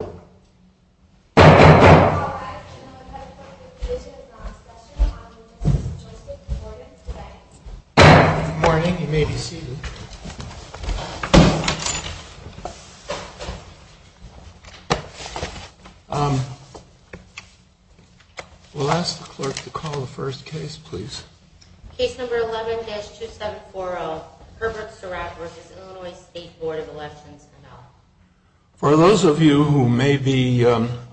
Good morning. You may be seated. We'll ask the clerk to call the first case, please. Case number 11-2740, Herbert Sorack v. Illinois State Board of Elections. For those of you who may be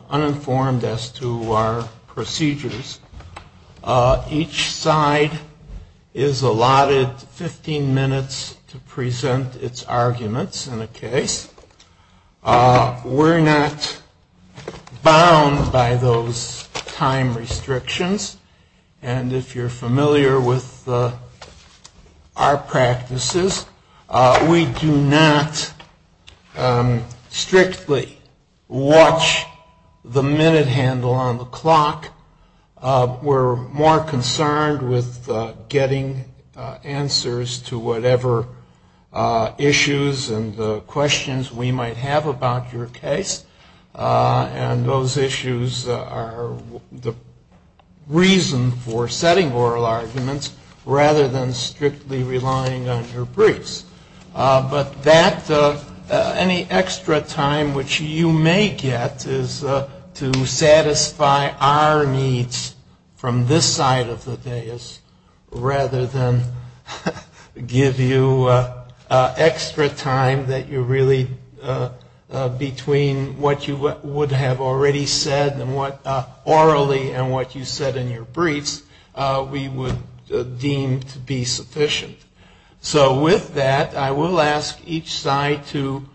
uninformed as to our procedures, each side is allotted 15 minutes to present its arguments in a case. We're not bound by those time restrictions, and if you're familiar with our practices, we do not strictly watch the minute handle on the clock. We're more concerned with getting answers to whatever issues and questions we might have about your case, and those issues are the reason for setting oral arguments rather than strictly relying on your briefs. But any extra time which you may get is to satisfy our needs from this side of the dais rather than give you extra time between what you would have already said orally and what you said in your briefs we would deem to be sufficient. So with that, I will ask each side to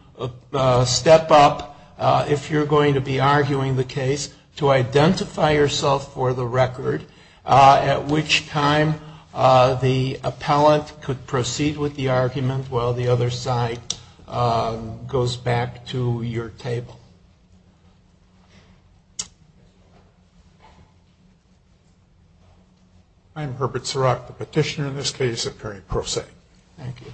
step up, if you're going to be arguing the case, to identify yourself for the record, at which time the appellant could proceed with the argument while the other side goes back to your table. I'm Herbert Sorack, the petitioner in this case at Perry Pro Se. Thank you.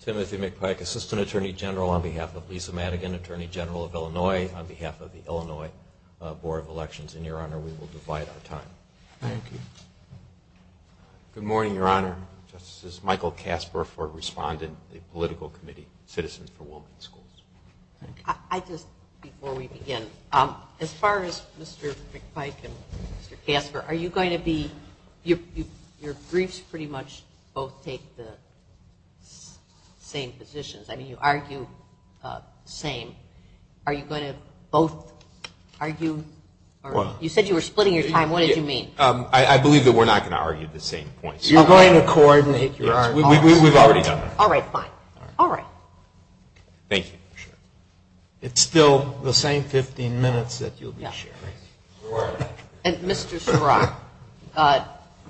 Timothy McPike, Assistant Attorney General on behalf of Lisa Madigan, Attorney General of Illinois on behalf of the Illinois Board of Elections. And, Your Honor, we will divide our time. Thank you. Good morning, Your Honor. This is Michael Kasper for Respondent, the Political Committee, Citizens for Women in Schools. I just, before we begin, as far as Mr. McPike and Mr. Kasper, are you going to be, your briefs pretty much both take the same positions. I mean, you argue the same. Are you going to both argue, you said you were splitting your time. What did you mean? I believe that we're not going to argue the same points. You're going to coordinate your arguments. All right, fine. All right. Thank you, Your Honor. It's still the same 15 minutes that you'll be sharing. And, Mr. Sorack,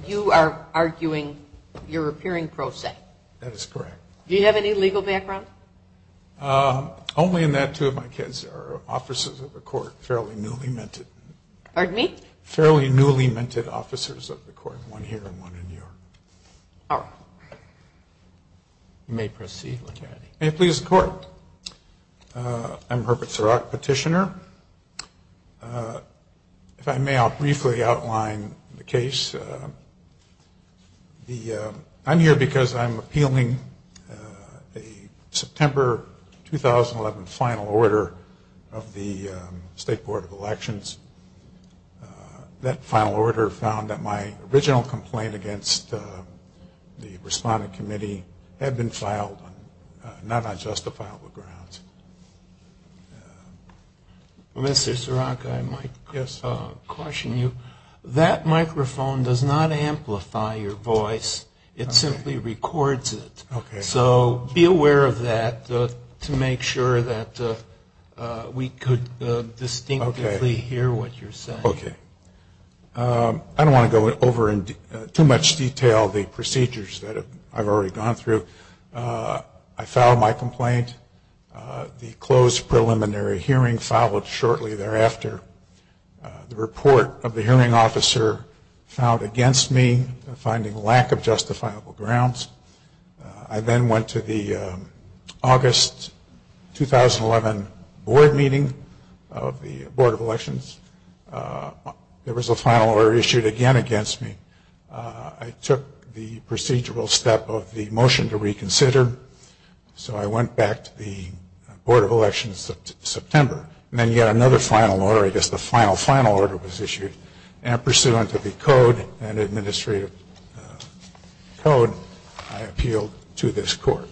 you are arguing you're appearing pro se. That is correct. Do you have any legal background? Only in that two of my kids are officers of the court, fairly newly minted. Pardon me? Fairly newly minted officers of the court, one here and one in New York. All right. You may proceed, Mr. Kennedy. May it please the Court. I'm Herbert Sorack, petitioner. If I may, I'll briefly outline the case. I'm here because I'm appealing a September 2011 final order of the State Board of Elections. That final order found that my original complaint against the Respondent Committee had been filed, not on justifiable grounds. Mr. Sorack, I might caution you. That microphone does not amplify your voice. It simply records it. Okay. So be aware of that to make sure that we could distinctly hear what you're saying. Okay. I don't want to go over in too much detail the procedures that I've already gone through. I filed my complaint. The closed preliminary hearing followed shortly thereafter. The report of the hearing officer found against me finding lack of justifiable grounds. I then went to the August 2011 board meeting of the Board of Elections. There was a final order issued again against me. I took the procedural step of the motion to reconsider, so I went back to the Board of Elections in September. And then yet another final order, I guess the final, final order was issued. And pursuant to the code and administrative code, I appealed to this court.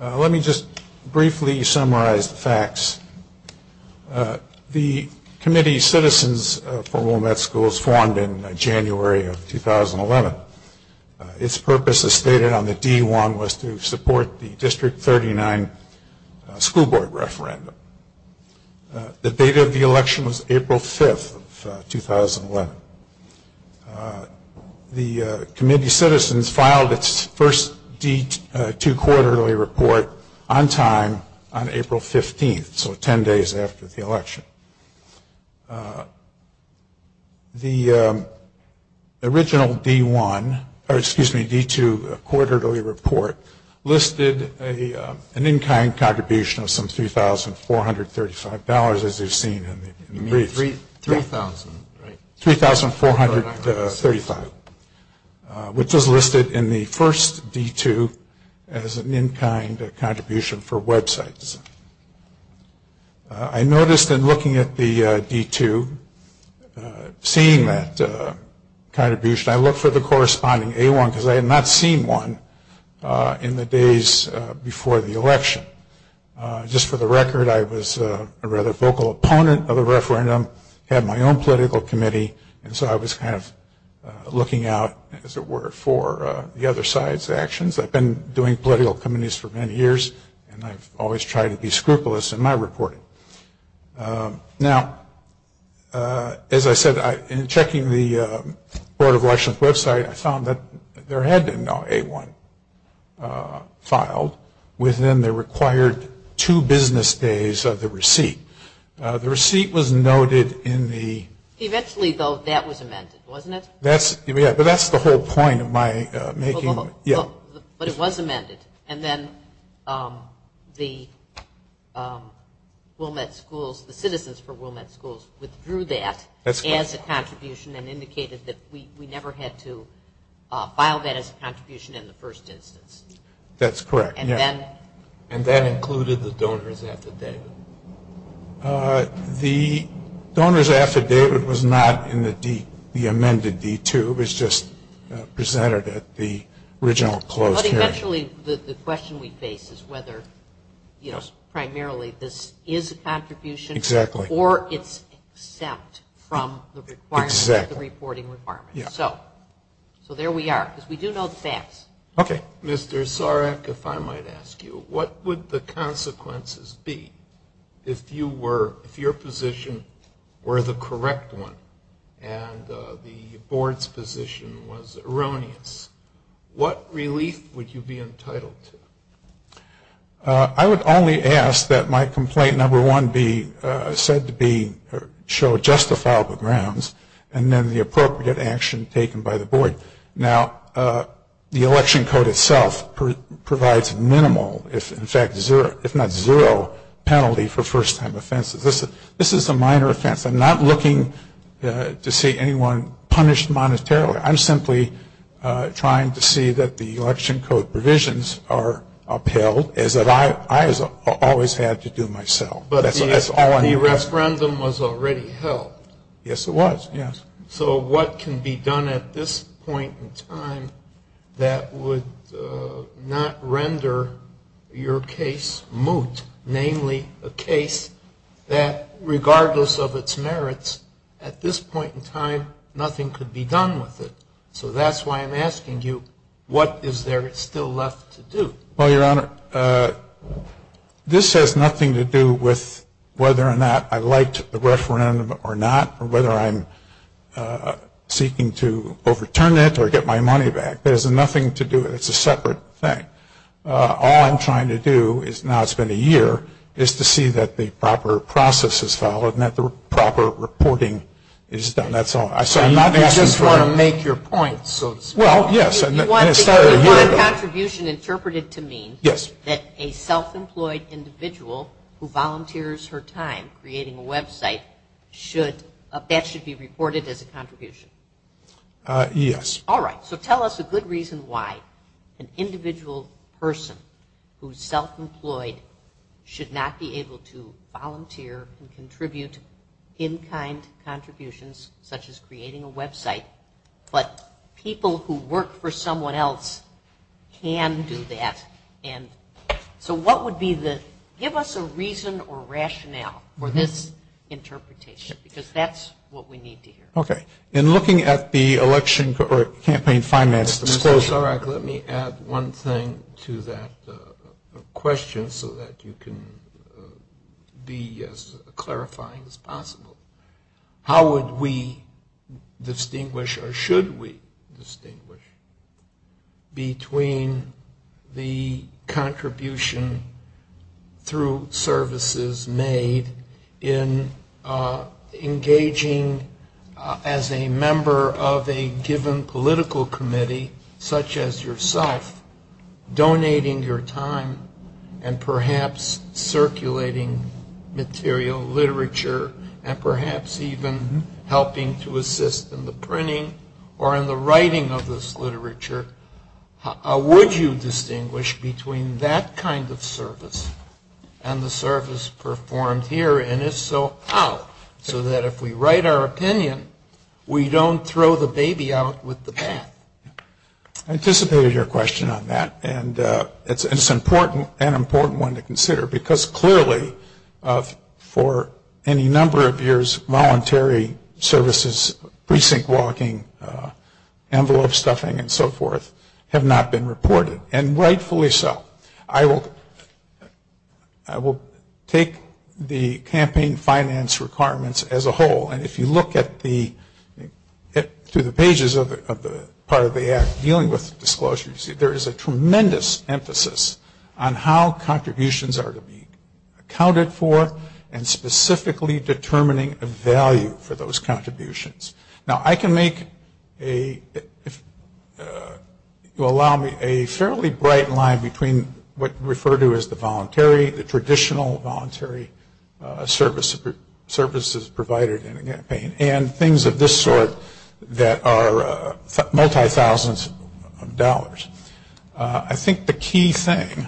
Let me just briefly summarize the facts. The Committee of Citizens for Willamette Schools formed in January of 2011. Its purpose, as stated on the D-1, was to support the District 39 school board referendum. The date of the election was April 5th of 2011. The Committee of Citizens filed its first D-2 quarterly report on time on April 15th, so 10 days after the election. The original D-1, or excuse me, D-2 quarterly report listed an in-kind contribution of some $3,435, as you've seen in the brief. You mean $3,000, right? $3,435, which was listed in the first D-2 as an in-kind contribution for websites. I noticed in looking at the D-2, seeing that contribution, I looked for the corresponding A-1, because I had not seen one in the days before the election. Just for the record, I was a rather vocal opponent of the referendum, had my own political committee, and so I was kind of looking out, as it were, for the other side's actions. I've been doing political committees for many years, and I've always tried to be scrupulous in my reporting. Now, as I said, in checking the Board of Elections website, I found that there had been no A-1 filed within the required two business days of the receipt. The receipt was noted in the... Eventually, though, that was amended, wasn't it? Yeah, but that's the whole point of my making... But it was amended, and then the citizens for Wilmette Schools withdrew that as a contribution and indicated that we never had to file that as a contribution in the first instance. That's correct, yeah. And that included the donor's affidavit? The donor's affidavit was not in the amended D-2. It was just presented at the original closed hearing. But eventually, the question we face is whether primarily this is a contribution... Exactly. ...or it's exempt from the reporting requirements. Yeah. So there we are, because we do know the facts. Okay. Mr. Sarek, if I might ask you, what would the consequences be if you were... if your position were the correct one and the Board's position was erroneous? What relief would you be entitled to? I would only ask that my complaint number one be said to be... show justifiable grounds, and then the appropriate action taken by the Board. Now, the election code itself provides minimal, if in fact zero, if not zero penalty for first-time offenses. This is a minor offense. I'm not looking to see anyone punished monetarily. I'm simply trying to see that the election code provisions are upheld, as I have always had to do myself. But the referendum was already held. Yes, it was, yes. So what can be done at this point in time that would not render your case moot, namely a case that, regardless of its merits, at this point in time, nothing could be done with it? So that's why I'm asking you, what is there still left to do? Well, Your Honor, this has nothing to do with whether or not I liked the referendum or not, or whether I'm seeking to overturn it or get my money back. There's nothing to do with it. It's a separate thing. All I'm trying to do, now it's been a year, is to see that the proper process is followed and that the proper reporting is done. That's all. I'm not asking for... You just want to make your point, so to speak. Well, yes. You want a contribution interpreted to mean that a self-employed individual who volunteers her time creating a website, that should be reported as a contribution? Yes. All right. So tell us a good reason why an individual person who's self-employed should not be able to volunteer and contribute in-kind contributions, such as creating a website, but people who work for someone else can do that. So what would be the... Give us a reason or rationale for this interpretation, because that's what we need to hear. Okay. In looking at the election campaign finance disclosure... Mr. Sorek, let me add one thing to that question so that you can be as clarifying as possible. How would we distinguish, or should we distinguish, between the contribution through services made in engaging as a member of a given political committee, such as yourself, donating your time and perhaps circulating material, literature, and perhaps even helping to assist in the printing or in the writing of this literature? Would you distinguish between that kind of service and the service performed here, and if so, how, so that if we write our opinion, we don't throw the baby out with the bat? I anticipated your question on that, and it's an important one to consider, because clearly for any number of years, voluntary services, precinct walking, envelope stuffing, and so forth have not been reported, and rightfully so. I will take the campaign finance requirements as a whole, and if you look through the pages of the part of the Act dealing with disclosures, there is a tremendous emphasis on how contributions are to be accounted for and specifically determining a value for those contributions. Now, I can make a fairly bright line between what we refer to as the voluntary, the traditional voluntary services provided in a campaign, and things of this sort that are multi-thousands of dollars. I think the key thing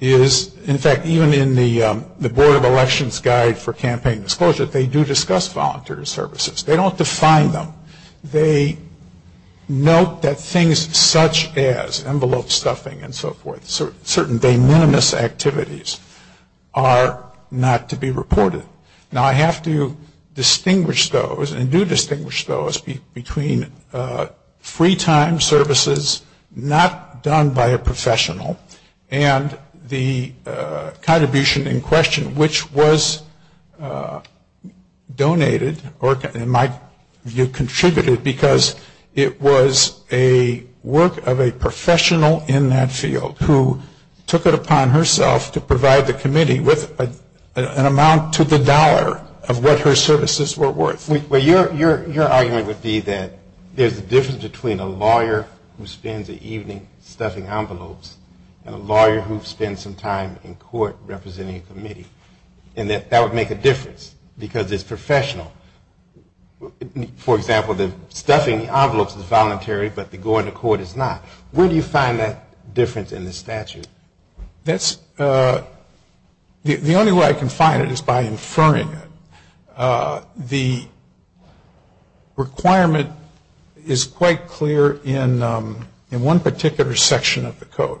is, in fact, even in the Board of Elections Guide for Campaign Disclosure, they do discuss voluntary services. They don't define them. They note that things such as envelope stuffing and so forth, certain de minimis activities, are not to be reported. Now, I have to distinguish those, and do distinguish those, between free time services not done by a professional, and the contribution in question which was donated, or in my view contributed, because it was a work of a professional in that field who took it upon herself to provide the committee with an amount to the dollar of what her services were worth. Well, your argument would be that there's a difference between a lawyer who spends the evening stuffing envelopes and a lawyer who spends some time in court representing a committee, and that that would make a difference because it's professional. For example, the stuffing of the envelopes is voluntary, but the going to court is not. Where do you find that difference in the statute? The only way I can find it is by inferring it. The requirement is quite clear in one particular section of the code,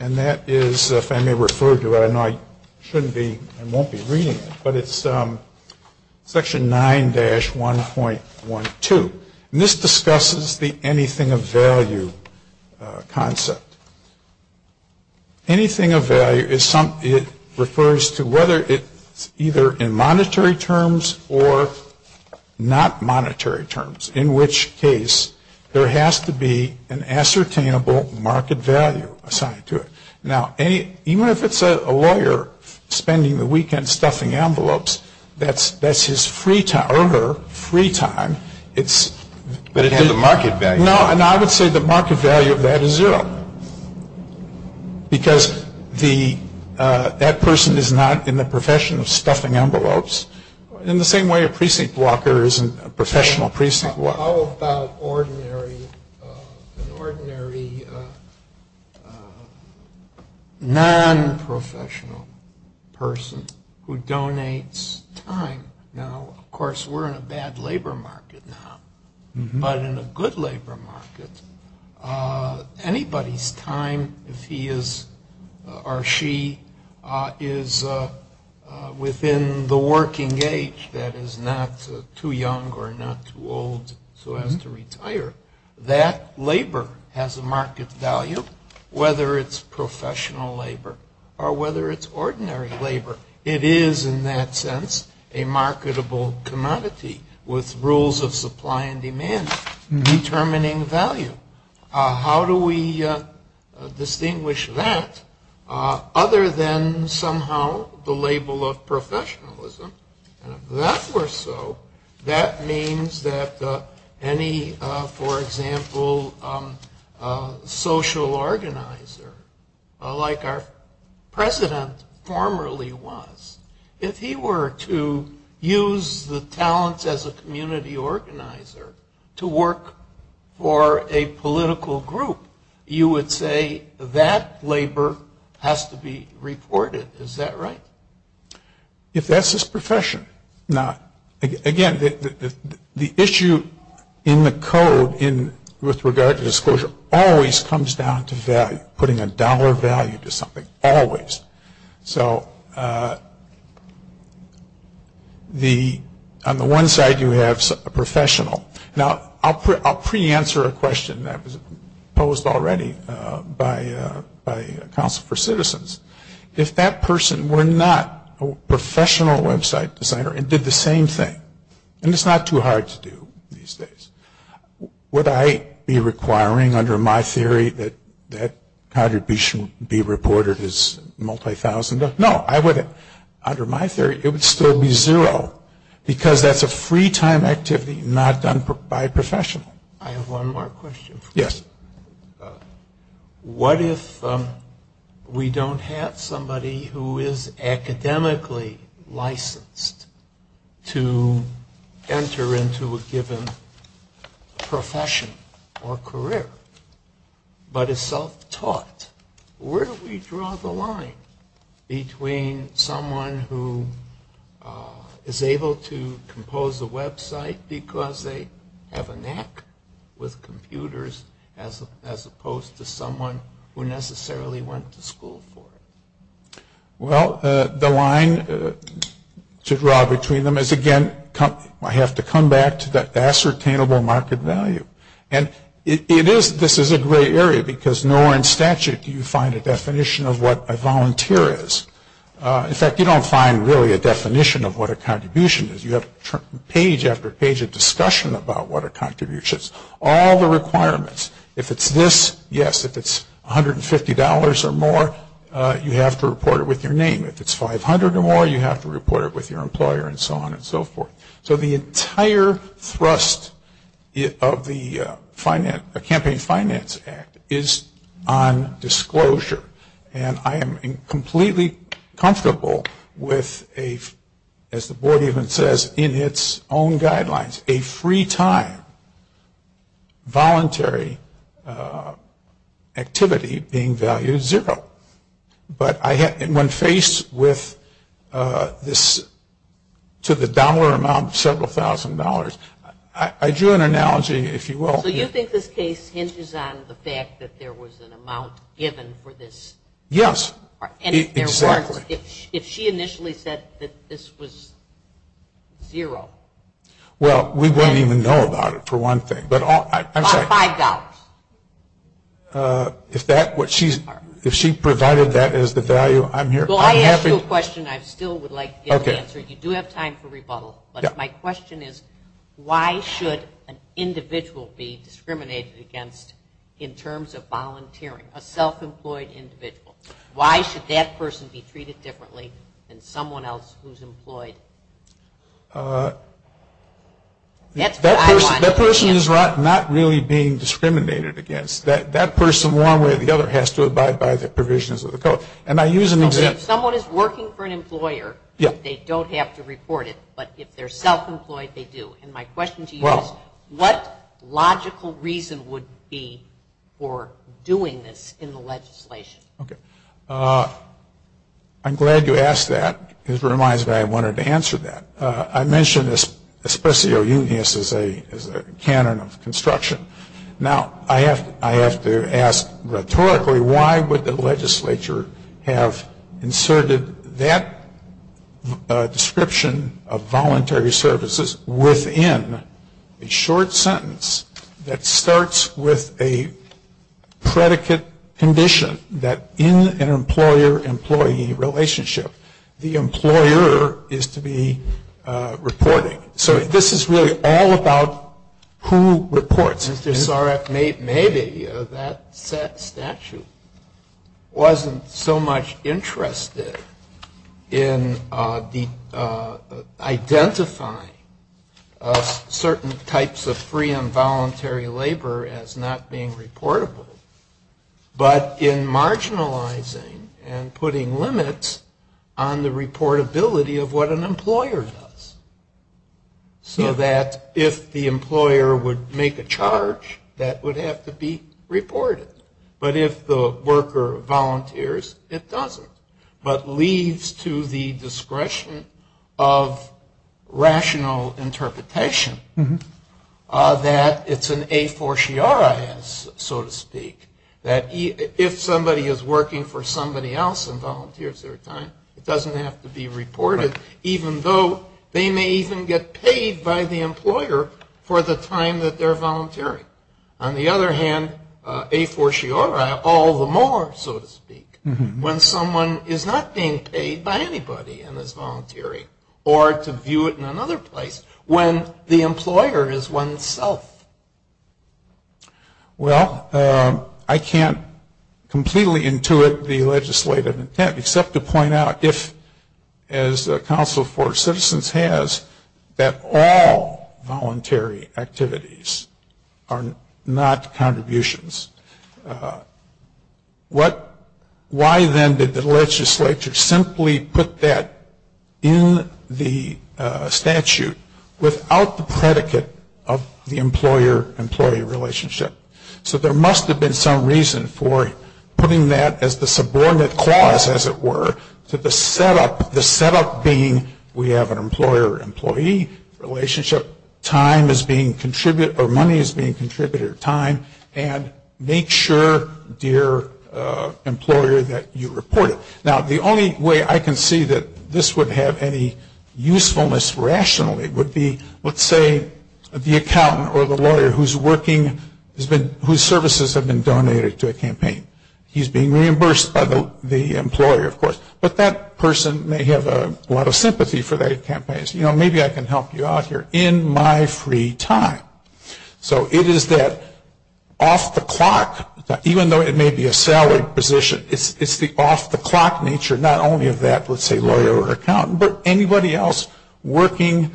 and that is, if I may refer to it, I know I shouldn't be, I won't be reading it, but it's section 9-1.12. And this discusses the anything of value concept. Anything of value refers to whether it's either in monetary terms or not monetary terms, in which case there has to be an ascertainable market value assigned to it. Now, even if it's a lawyer spending the weekend stuffing envelopes, that's his free time, or her free time. But it has a market value. No, and I would say the market value of that is zero, because that person is not in the profession of stuffing envelopes, in the same way a precinct walker isn't a professional precinct walker. How about an ordinary non-professional person who donates time? Now, of course, we're in a bad labor market now, but in a good labor market, anybody's time, if he is or she is within the working age that is not too young or not too old so as to retire, that labor has a market value, whether it's professional labor or whether it's ordinary labor. It is, in that sense, a marketable commodity with rules of supply and demand determining value. How do we distinguish that other than somehow the label of professionalism? And if that were so, that means that any, for example, social organizer, like our president formerly was, if he were to use the talents as a community organizer to work for a political group, you would say that labor has to be reported. Is that right? If that's his profession. Now, again, the issue in the code with regard to disclosure always comes down to value, putting a dollar value to something, always. So on the one side you have a professional. Now, I'll pre-answer a question that was posed already by Council for Citizens. If that person were not a professional website designer and did the same thing, and it's not too hard to do these days, would I be requiring under my theory that that contribution be reported as multi-thousand? No, I wouldn't. Under my theory it would still be zero because that's a free time activity not done by a professional. I have one more question. Yes. What if we don't have somebody who is academically licensed to enter into a given profession or career, but is self-taught? Where do we draw the line between someone who is able to compose a website because they have a knack with computers as opposed to someone who necessarily went to school for it? Well, the line to draw between them is, again, I have to come back to the ascertainable market value. And this is a gray area because nowhere in statute do you find a definition of what a volunteer is. In fact, you don't find really a definition of what a contribution is. You have page after page of discussion about what a contribution is, all the requirements. If it's this, yes. If it's $150 or more, you have to report it with your name. If it's $500 or more, you have to report it with your employer and so on and so forth. So the entire thrust of the campaign finance act is on disclosure. And I am completely comfortable with a, as the board even says, in its own guidelines, a free time voluntary activity being valued at zero. But when faced with this to the dollar amount of several thousand dollars, I drew an analogy, if you will. So you think this case hinges on the fact that there was an amount given for this? Yes, exactly. If she initially said that this was zero. Well, we wouldn't even know about it, for one thing. About $5. If she provided that as the value, I'm here. Well, I asked you a question I still would like to get an answer. You do have time for rebuttal. But my question is, why should an individual be discriminated against in terms of volunteering, a self-employed individual? Why should that person be treated differently than someone else who's employed? That person is not really being discriminated against. That person one way or the other has to abide by the provisions of the code. And I use an example. If someone is working for an employer, they don't have to report it. But if they're self-employed, they do. And my question to you is, what logical reason would be for doing this in the legislation? Okay. I'm glad you asked that. It reminds me I wanted to answer that. I mentioned this as a canon of construction. Now, I have to ask rhetorically, why would the legislature have inserted that description of voluntary services within a short sentence that starts with a predicate condition that in an employer-employee relationship, the employer is to be reporting. So this is really all about who reports. Mr. Sorek, maybe that statute wasn't so much interested in identifying certain types of free and voluntary labor as not being reportable, but in marginalizing and putting limits on the reportability of what an employer does. So that if the employer would make a charge, that would have to be reported. But if the worker volunteers, it doesn't. But leads to the discretion of rational interpretation that it's an a fortiori, so to speak, that if somebody is working for somebody else and volunteers their time, it doesn't have to be reported, even though they may even get paid by the employer for the time that they're volunteering. On the other hand, a fortiori all the more, so to speak. When someone is not being paid by anybody and is volunteering, or to view it in another place, when the employer is oneself. Well, I can't completely intuit the legislative intent, except to point out if, as the Council for Citizens has, that all voluntary activities are not contributions. Why then did the legislature simply put that in the statute without the predicate of the employer-employee relationship? So there must have been some reason for putting that as the subordinate clause, as it were, to the setup being we have an employer-employee relationship, time is being contributed, or money is being contributed, or time, and make sure, dear employer, that you report it. Now, the only way I can see that this would have any usefulness rationally would be, let's say, the accountant or the lawyer whose services have been donated to a campaign. He's being reimbursed by the employer, of course. But that person may have a lot of sympathy for their campaigns. You know, maybe I can help you out here. In my free time. So it is that off-the-clock, even though it may be a salaried position, it's the off-the-clock nature, not only of that, let's say, lawyer or accountant, but anybody else working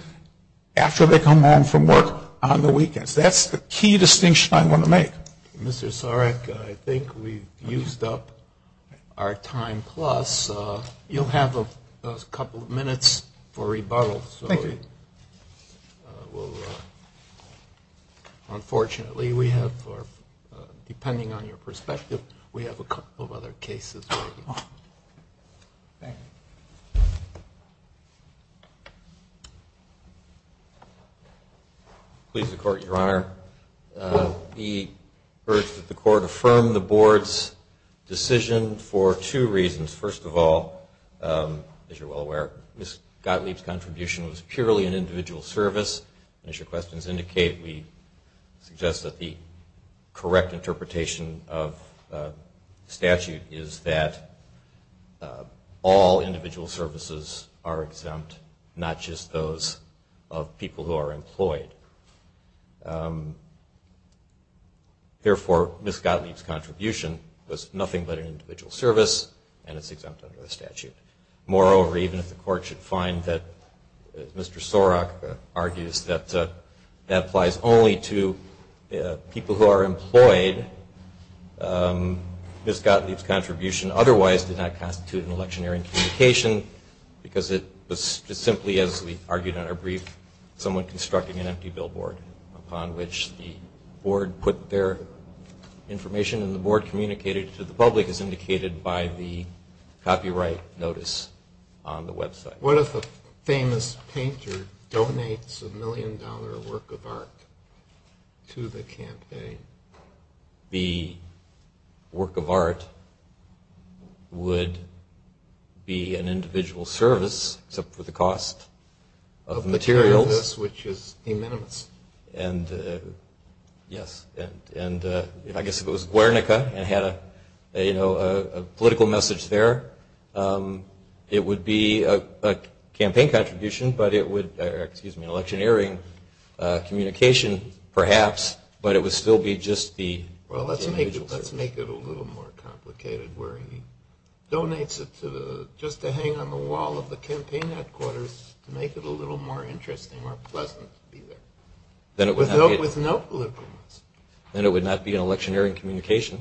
after they come home from work on the weekends. That's the key distinction I want to make. Mr. Sarek, I think we've used up our time plus. You'll have a couple of minutes for rebuttal. Thank you. Unfortunately, we have, depending on your perspective, we have a couple of other cases. Thank you. Please. Please, the Court, Your Honor. We urge that the Court affirm the Board's decision for two reasons. First of all, as you're well aware, Ms. Gottlieb's contribution was purely an individual service. And as your questions indicate, we suggest that the correct interpretation of statute is that all individual services are exempt, not just those of people who are employed. Therefore, Ms. Gottlieb's contribution was nothing but an individual service, Moreover, even if the Court should find that, as Mr. Sarek argues, that that applies only to people who are employed, Ms. Gottlieb's contribution otherwise did not constitute an electioneering communication because it was just simply, as we argued in our brief, someone constructing an empty billboard upon which the Board put their information. And the Board communicated to the public, as indicated by the copyright notice on the website. What if a famous painter donates a million-dollar work of art to the campaign? The work of art would be an individual service, except for the cost of materials. Which is de minimis. Yes. And I guess if it was Guernica and had a political message there, it would be a campaign contribution, but it would be an electioneering communication, perhaps, but it would still be just the individual service. Well, let's make it a little more complicated, where he donates it just to hang on the wall of the campaign headquarters to make it a little more interesting or pleasant to be there, with no political message. Then it would not be an electioneering communication,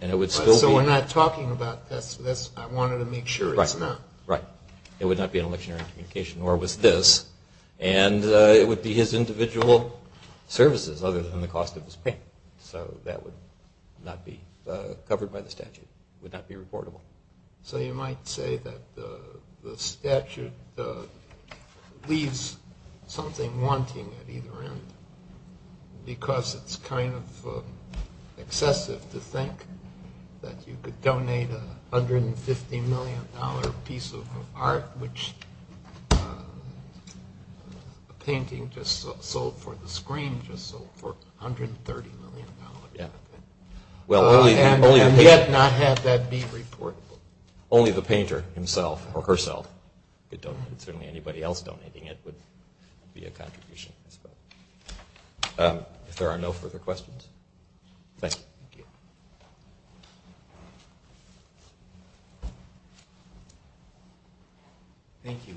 and it would still be... So we're not talking about this, I wanted to make sure it's not. Right. It would not be an electioneering communication, nor was this. And it would be his individual services, other than the cost of his paint. So that would not be covered by the statute. It would not be reportable. So you might say that the statute leaves something wanting at either end, because it's kind of excessive to think that you could donate a $150 million piece of art, which the painting just sold for, the screen just sold for $130 million. And yet not have that be reportable. Only the painter himself or herself could donate. Certainly anybody else donating it would be a contribution. If there are no further questions. Thank you. Thank you.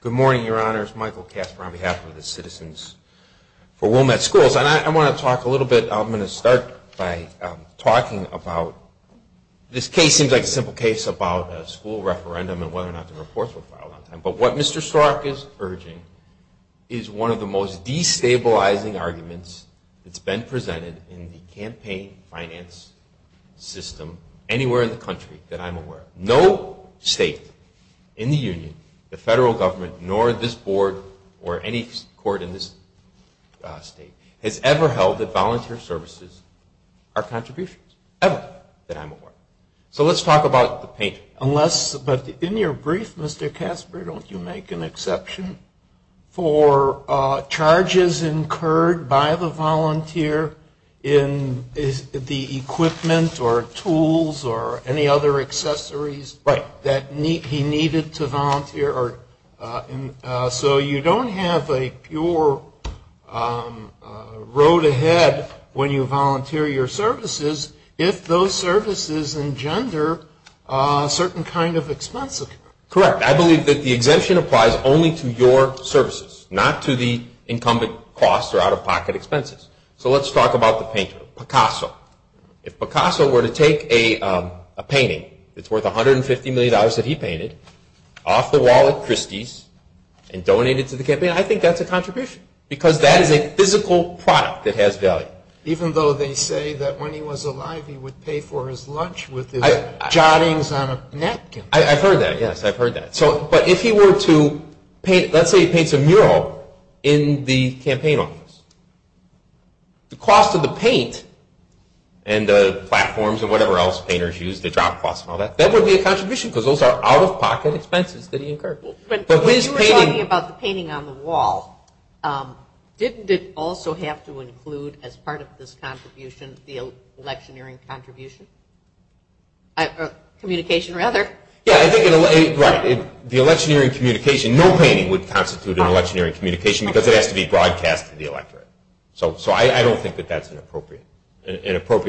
Good morning, Your Honors. Michael Kasper on behalf of the Citizens for Wilmette Schools. And I want to talk a little bit, I'm going to start by talking about... This case seems like a simple case about a school referendum and whether or not the reports were filed on time. But what Mr. Stark is urging is one of the most destabilizing arguments that's been presented in the campaign finance system anywhere in the country that I'm aware of. No state in the union, the federal government, nor this board or any court in this state, has ever held that volunteer services are contributions, ever that I'm aware of. So let's talk about the painter. But in your brief, Mr. Kasper, don't you make an exception for charges incurred by the volunteer in the equipment or tools or any other accessories that he needed to volunteer? So you don't have a pure road ahead when you volunteer your services if those services engender a certain kind of expense? Correct. I believe that the exemption applies only to your services, not to the incumbent costs or out-of-pocket expenses. So let's talk about the painter, Picasso. If Picasso were to take a painting that's worth $150 million that he painted off the wall at Christie's and donate it to the campaign, I think that's a contribution because that is a physical product that has value. Even though they say that when he was alive he would pay for his lunch with his jottings on a napkin. I've heard that, yes. I've heard that. But if he were to paint, let's say he paints a mural in the campaign office, the cost of the paint and the platforms and whatever else painters use, the job costs and all that, that would be a contribution because those are out-of-pocket expenses that he incurred. But when you were talking about the painting on the wall, didn't it also have to include as part of this contribution the electioneering contribution? Communication, rather. Yeah, I think the electioneering communication, no painting would constitute an electioneering communication because it has to be broadcast to the electorate. So I don't think that that's an appropriate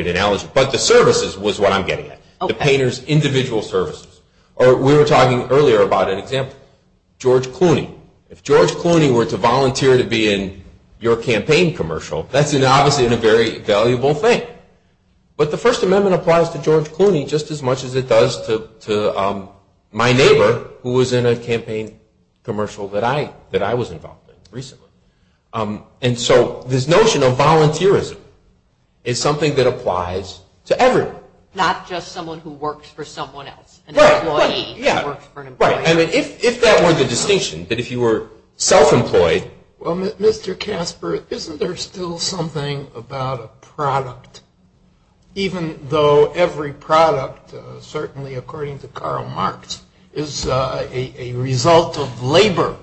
analogy. But the services was what I'm getting at, the painter's individual services. We were talking earlier about an example, George Clooney. If George Clooney were to volunteer to be in your campaign commercial, that's obviously a very valuable thing. But the First Amendment applies to George Clooney just as much as it does to my neighbor who was in a campaign commercial that I was involved in recently. And so this notion of volunteerism is something that applies to everyone. Not just someone who works for someone else, an employee who works for an employer. Right, and if that were the distinction, that if you were self-employed... Well, Mr. Casper, isn't there still something about a product, even though every product, certainly according to Karl Marx, is a result of labor?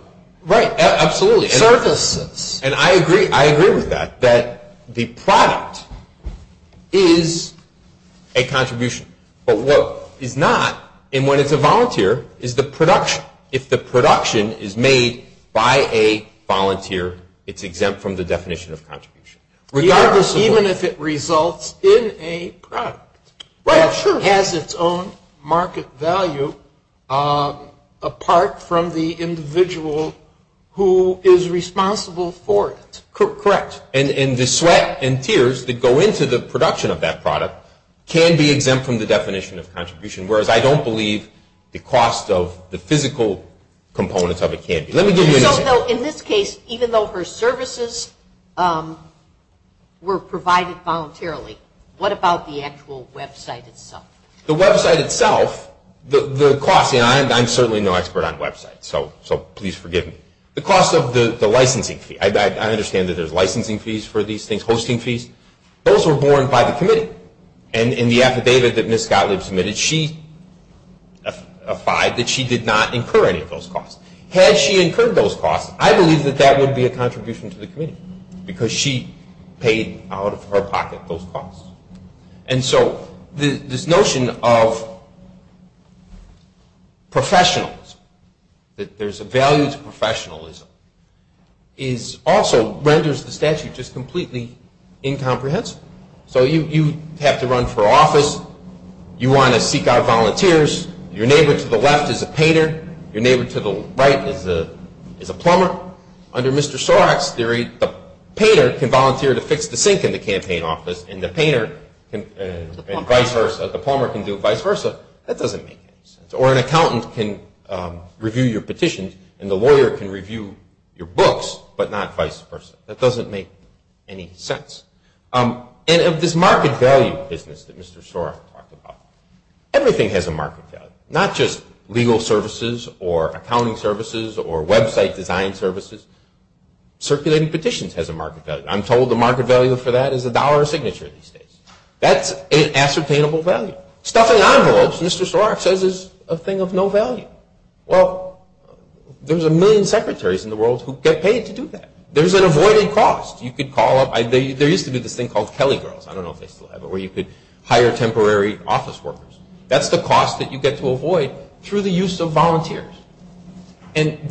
Right, absolutely. Services. And I agree with that, that the product is a contribution. But what it's not, and when it's a volunteer, is the production. If the production is made by a volunteer, it's exempt from the definition of contribution. Regardless of... Even if it results in a product. Right, sure. That has its own market value apart from the individual who is responsible for it. Correct. And the sweat and tears that go into the production of that product can be exempt from the definition of contribution. Whereas I don't believe the cost of the physical components of it can be. So in this case, even though her services were provided voluntarily, what about the actual website itself? The website itself, the cost, and I'm certainly no expert on websites, so please forgive me. The cost of the licensing fee. I understand that there's licensing fees for these things, hosting fees. Those were borne by the committee. And in the affidavit that Ms. Gottlieb submitted, she applied that she did not incur any of those costs. Had she incurred those costs, I believe that that would be a contribution to the committee, because she paid out of her pocket those costs. And so this notion of professionalism, that there's a value to professionalism, also renders the statute just completely incomprehensible. So you have to run for office. You want to seek out volunteers. Your neighbor to the left is a painter. Your neighbor to the right is a plumber. Under Mr. Sorok's theory, the painter can volunteer to fix the sink in the campaign office, and the plumber can do vice versa. That doesn't make any sense. Or an accountant can review your petitions, and the lawyer can review your books, but not vice versa. That doesn't make any sense. And of this market value business that Mr. Sorok talked about, everything has a market value, not just legal services or accounting services or website design services. Circulating petitions has a market value. I'm told the market value for that is a dollar a signature these days. That's an ascertainable value. Stuffing envelopes, Mr. Sorok says, is a thing of no value. Well, there's a million secretaries in the world who get paid to do that. There's an avoided cost. There used to be this thing called Kelly Girls. I don't know if they still have it, where you could hire temporary office workers. That's the cost that you get to avoid through the use of volunteers. And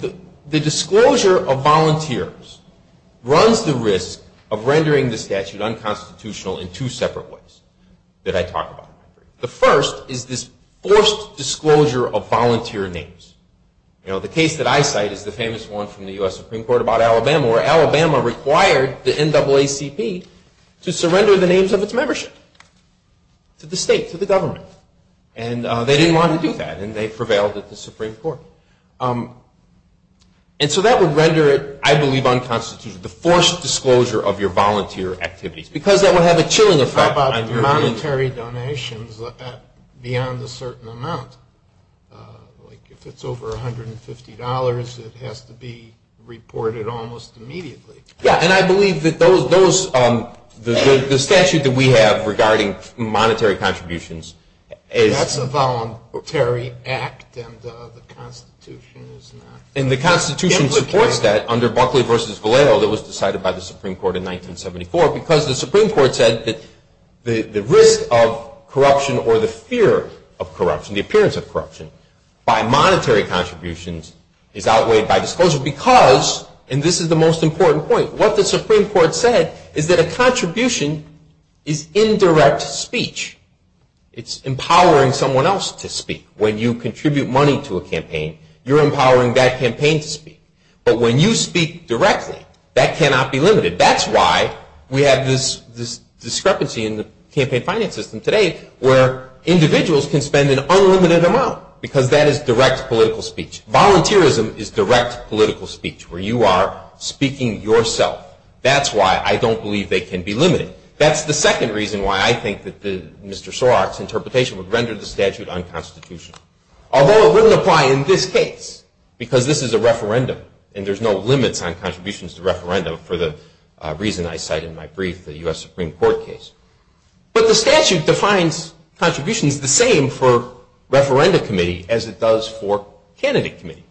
the disclosure of volunteers runs the risk of rendering the statute unconstitutional in two separate ways that I talk about. The first is this forced disclosure of volunteer names. The case that I cite is the famous one from the U.S. Supreme Court about Alabama, where Alabama required the NAACP to surrender the names of its membership to the state, to the government. And they didn't want to do that, and they prevailed at the Supreme Court. And so that would render it, I believe, unconstitutional, the forced disclosure of your volunteer activities, because that would have a chilling effect on your – But there are monetary donations beyond a certain amount. Like if it's over $150, it has to be reported almost immediately. Yeah, and I believe that those – the statute that we have regarding monetary contributions is – That's a voluntary act, and the Constitution is not – And the Constitution supports that under Buckley v. Vallejo that was decided by the Supreme Court in 1974, because the Supreme Court said that the risk of corruption or the fear of corruption, the appearance of corruption by monetary contributions is outweighed by disclosure because – And this is the most important point. What the Supreme Court said is that a contribution is indirect speech. It's empowering someone else to speak. When you contribute money to a campaign, you're empowering that campaign to speak. But when you speak directly, that cannot be limited. That's why we have this discrepancy in the campaign finance system today where individuals can spend an unlimited amount because that is direct political speech. Volunteerism is direct political speech where you are speaking yourself. That's why I don't believe they can be limited. That's the second reason why I think that Mr. Sorok's interpretation would render the statute unconstitutional, although it wouldn't apply in this case because this is a referendum, and there's no limits on contributions to referendum for the reason I cite in my brief, the U.S. Supreme Court case. But the statute defines contributions the same for referenda committee as it does for candidate committee.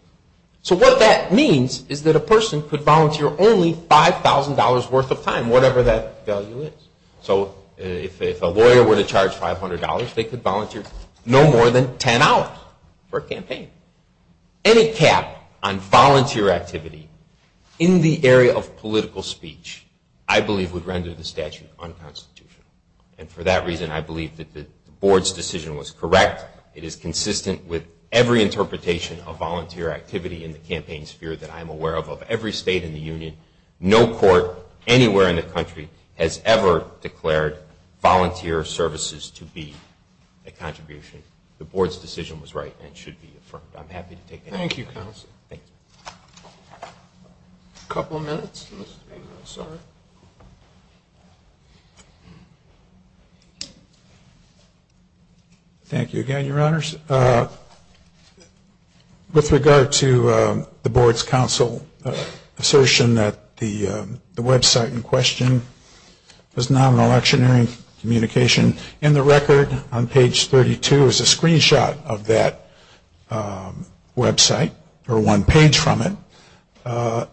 So what that means is that a person could volunteer only $5,000 worth of time, whatever that value is. So if a lawyer were to charge $500, they could volunteer no more than 10 hours for a campaign. Any cap on volunteer activity in the area of political speech, I believe, would render the statute unconstitutional. And for that reason, I believe that the board's decision was correct. It is consistent with every interpretation of volunteer activity in the campaign sphere that I am aware of. Of every state in the union, no court anywhere in the country has ever declared volunteer services to be a contribution. The board's decision was right and should be affirmed. I'm happy to take any questions. Thank you, Counsel. Thank you. A couple of minutes. Thank you again, Your Honors. With regard to the board's counsel's assertion that the website in question was not an electionary communication, in the record on page 32 is a screenshot of that website or one page from it.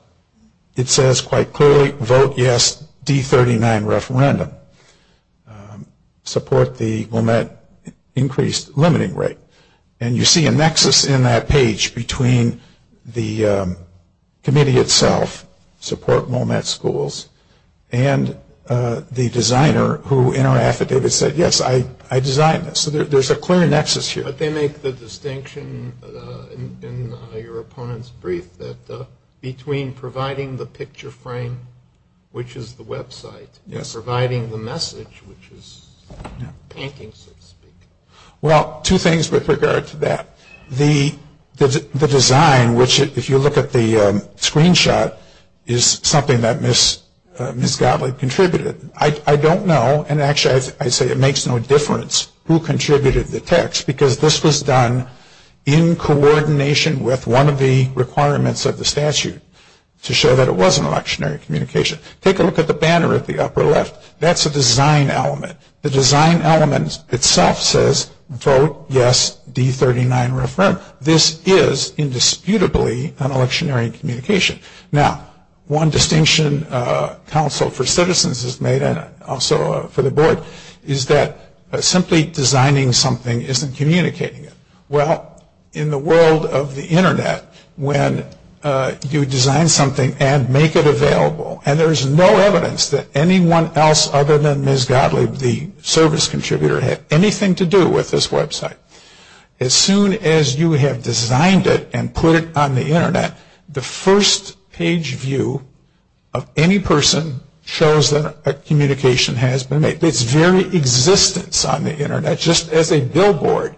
It says quite clearly, vote yes, D39 referendum. Support the MOMET increased limiting rate. And you see a nexus in that page between the committee itself, support MOMET schools, and the designer who in our affidavit said, yes, I designed this. So there's a clear nexus here. But they make the distinction in your opponent's brief that between providing the picture frame, which is the website, and providing the message, which is painting, so to speak. Well, two things with regard to that. The design, which if you look at the screenshot, is something that Ms. Gottlieb contributed. I don't know, and actually I say it makes no difference who contributed the text, because this was done in coordination with one of the requirements of the statute to show that it was an electionary communication. Take a look at the banner at the upper left. That's a design element. The design element itself says, vote yes, D39 referendum. This is indisputably an electionary communication. Now, one distinction council for citizens has made, and also for the board, is that simply designing something isn't communicating it. Well, in the world of the Internet, when you design something and make it available, and there's no evidence that anyone else other than Ms. Gottlieb, the service contributor, had anything to do with this website. As soon as you have designed it and put it on the Internet, the first page view of any person shows that a communication has been made. It's very existence on the Internet, just as a billboard.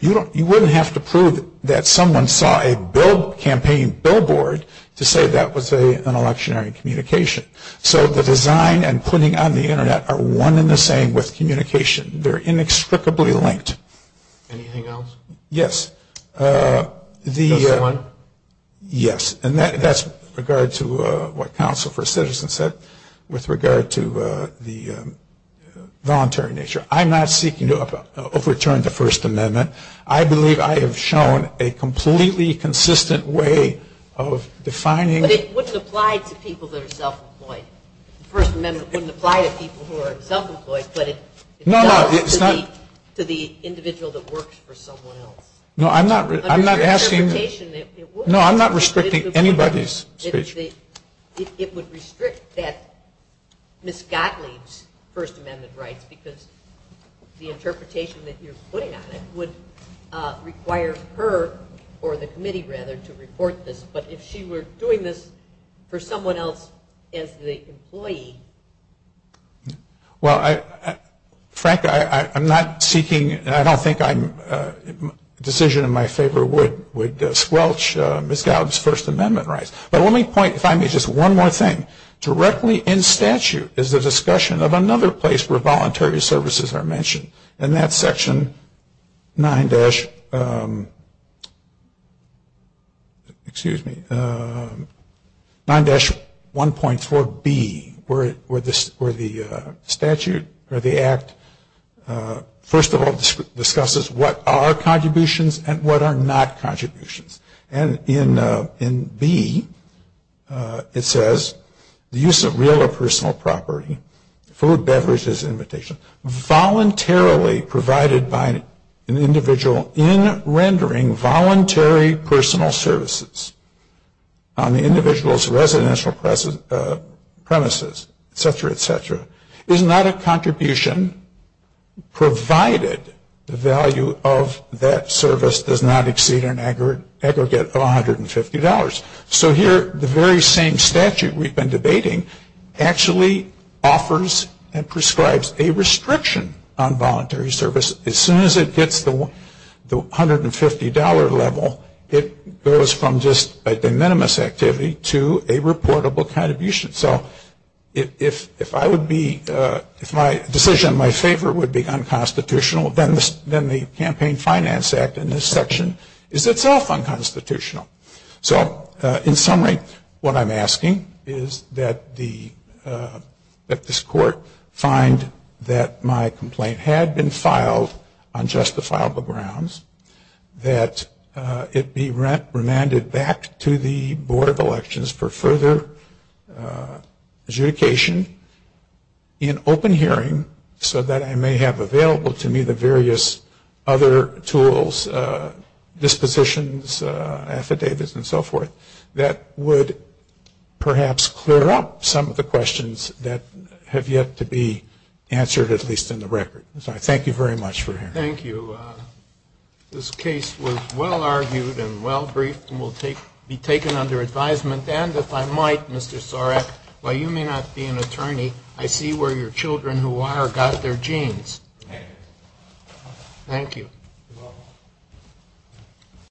You wouldn't have to prove that someone saw a campaign billboard to say that was an electionary communication. So the design and putting on the Internet are one in the same with communication. They're inextricably linked. Anything else? Yes. Just one? Yes. And that's with regard to what council for citizens said, with regard to the voluntary nature. I'm not seeking to overturn the First Amendment. I believe I have shown a completely consistent way of defining. But it wouldn't apply to people that are self-employed. The First Amendment wouldn't apply to people who are self-employed, but it does to the individual that works for someone else. No, I'm not asking. No, I'm not restricting anybody's speech. It would restrict that Ms. Gottlieb's First Amendment rights, because the interpretation that you're putting on it would require her or the committee, rather, to report this. But if she were doing this for someone else as the employee. Well, frankly, I'm not seeking and I don't think a decision in my favor would squelch Ms. Gottlieb's First Amendment rights. But let me point, if I may, just one more thing. Directly in statute is the discussion of another place where voluntary services are mentioned. And that's Section 9-1.4B, where the statute or the act, first of all, discusses what are contributions and what are not contributions. And in B, it says, the use of real or personal property, food, beverages, and invitations voluntarily provided by an individual in rendering voluntary personal services on the individual's residential premises, et cetera, et cetera, is not a contribution provided the value of that service does not exceed an aggregate of $150. So here, the very same statute we've been debating actually offers and prescribes a restriction on voluntary service. As soon as it gets the $150 level, it goes from just a de minimis activity to a reportable contribution. So if my decision in my favor would be unconstitutional, then the Campaign Finance Act in this section is itself unconstitutional. So in summary, what I'm asking is that this court find that my complaint had been filed on justifiable grounds, that it be remanded back to the Board of Elections for further adjudication in open hearing, so that I may have available to me the various other tools, dispositions, affidavits, and so forth, that would perhaps clear up some of the questions that have yet to be answered, at least in the record. Thank you very much for hearing. Thank you. This case was well-argued and well-briefed and will be taken under advisement. And if I might, Mr. Sorek, while you may not be an attorney, I see where your children who are got their genes. Thank you.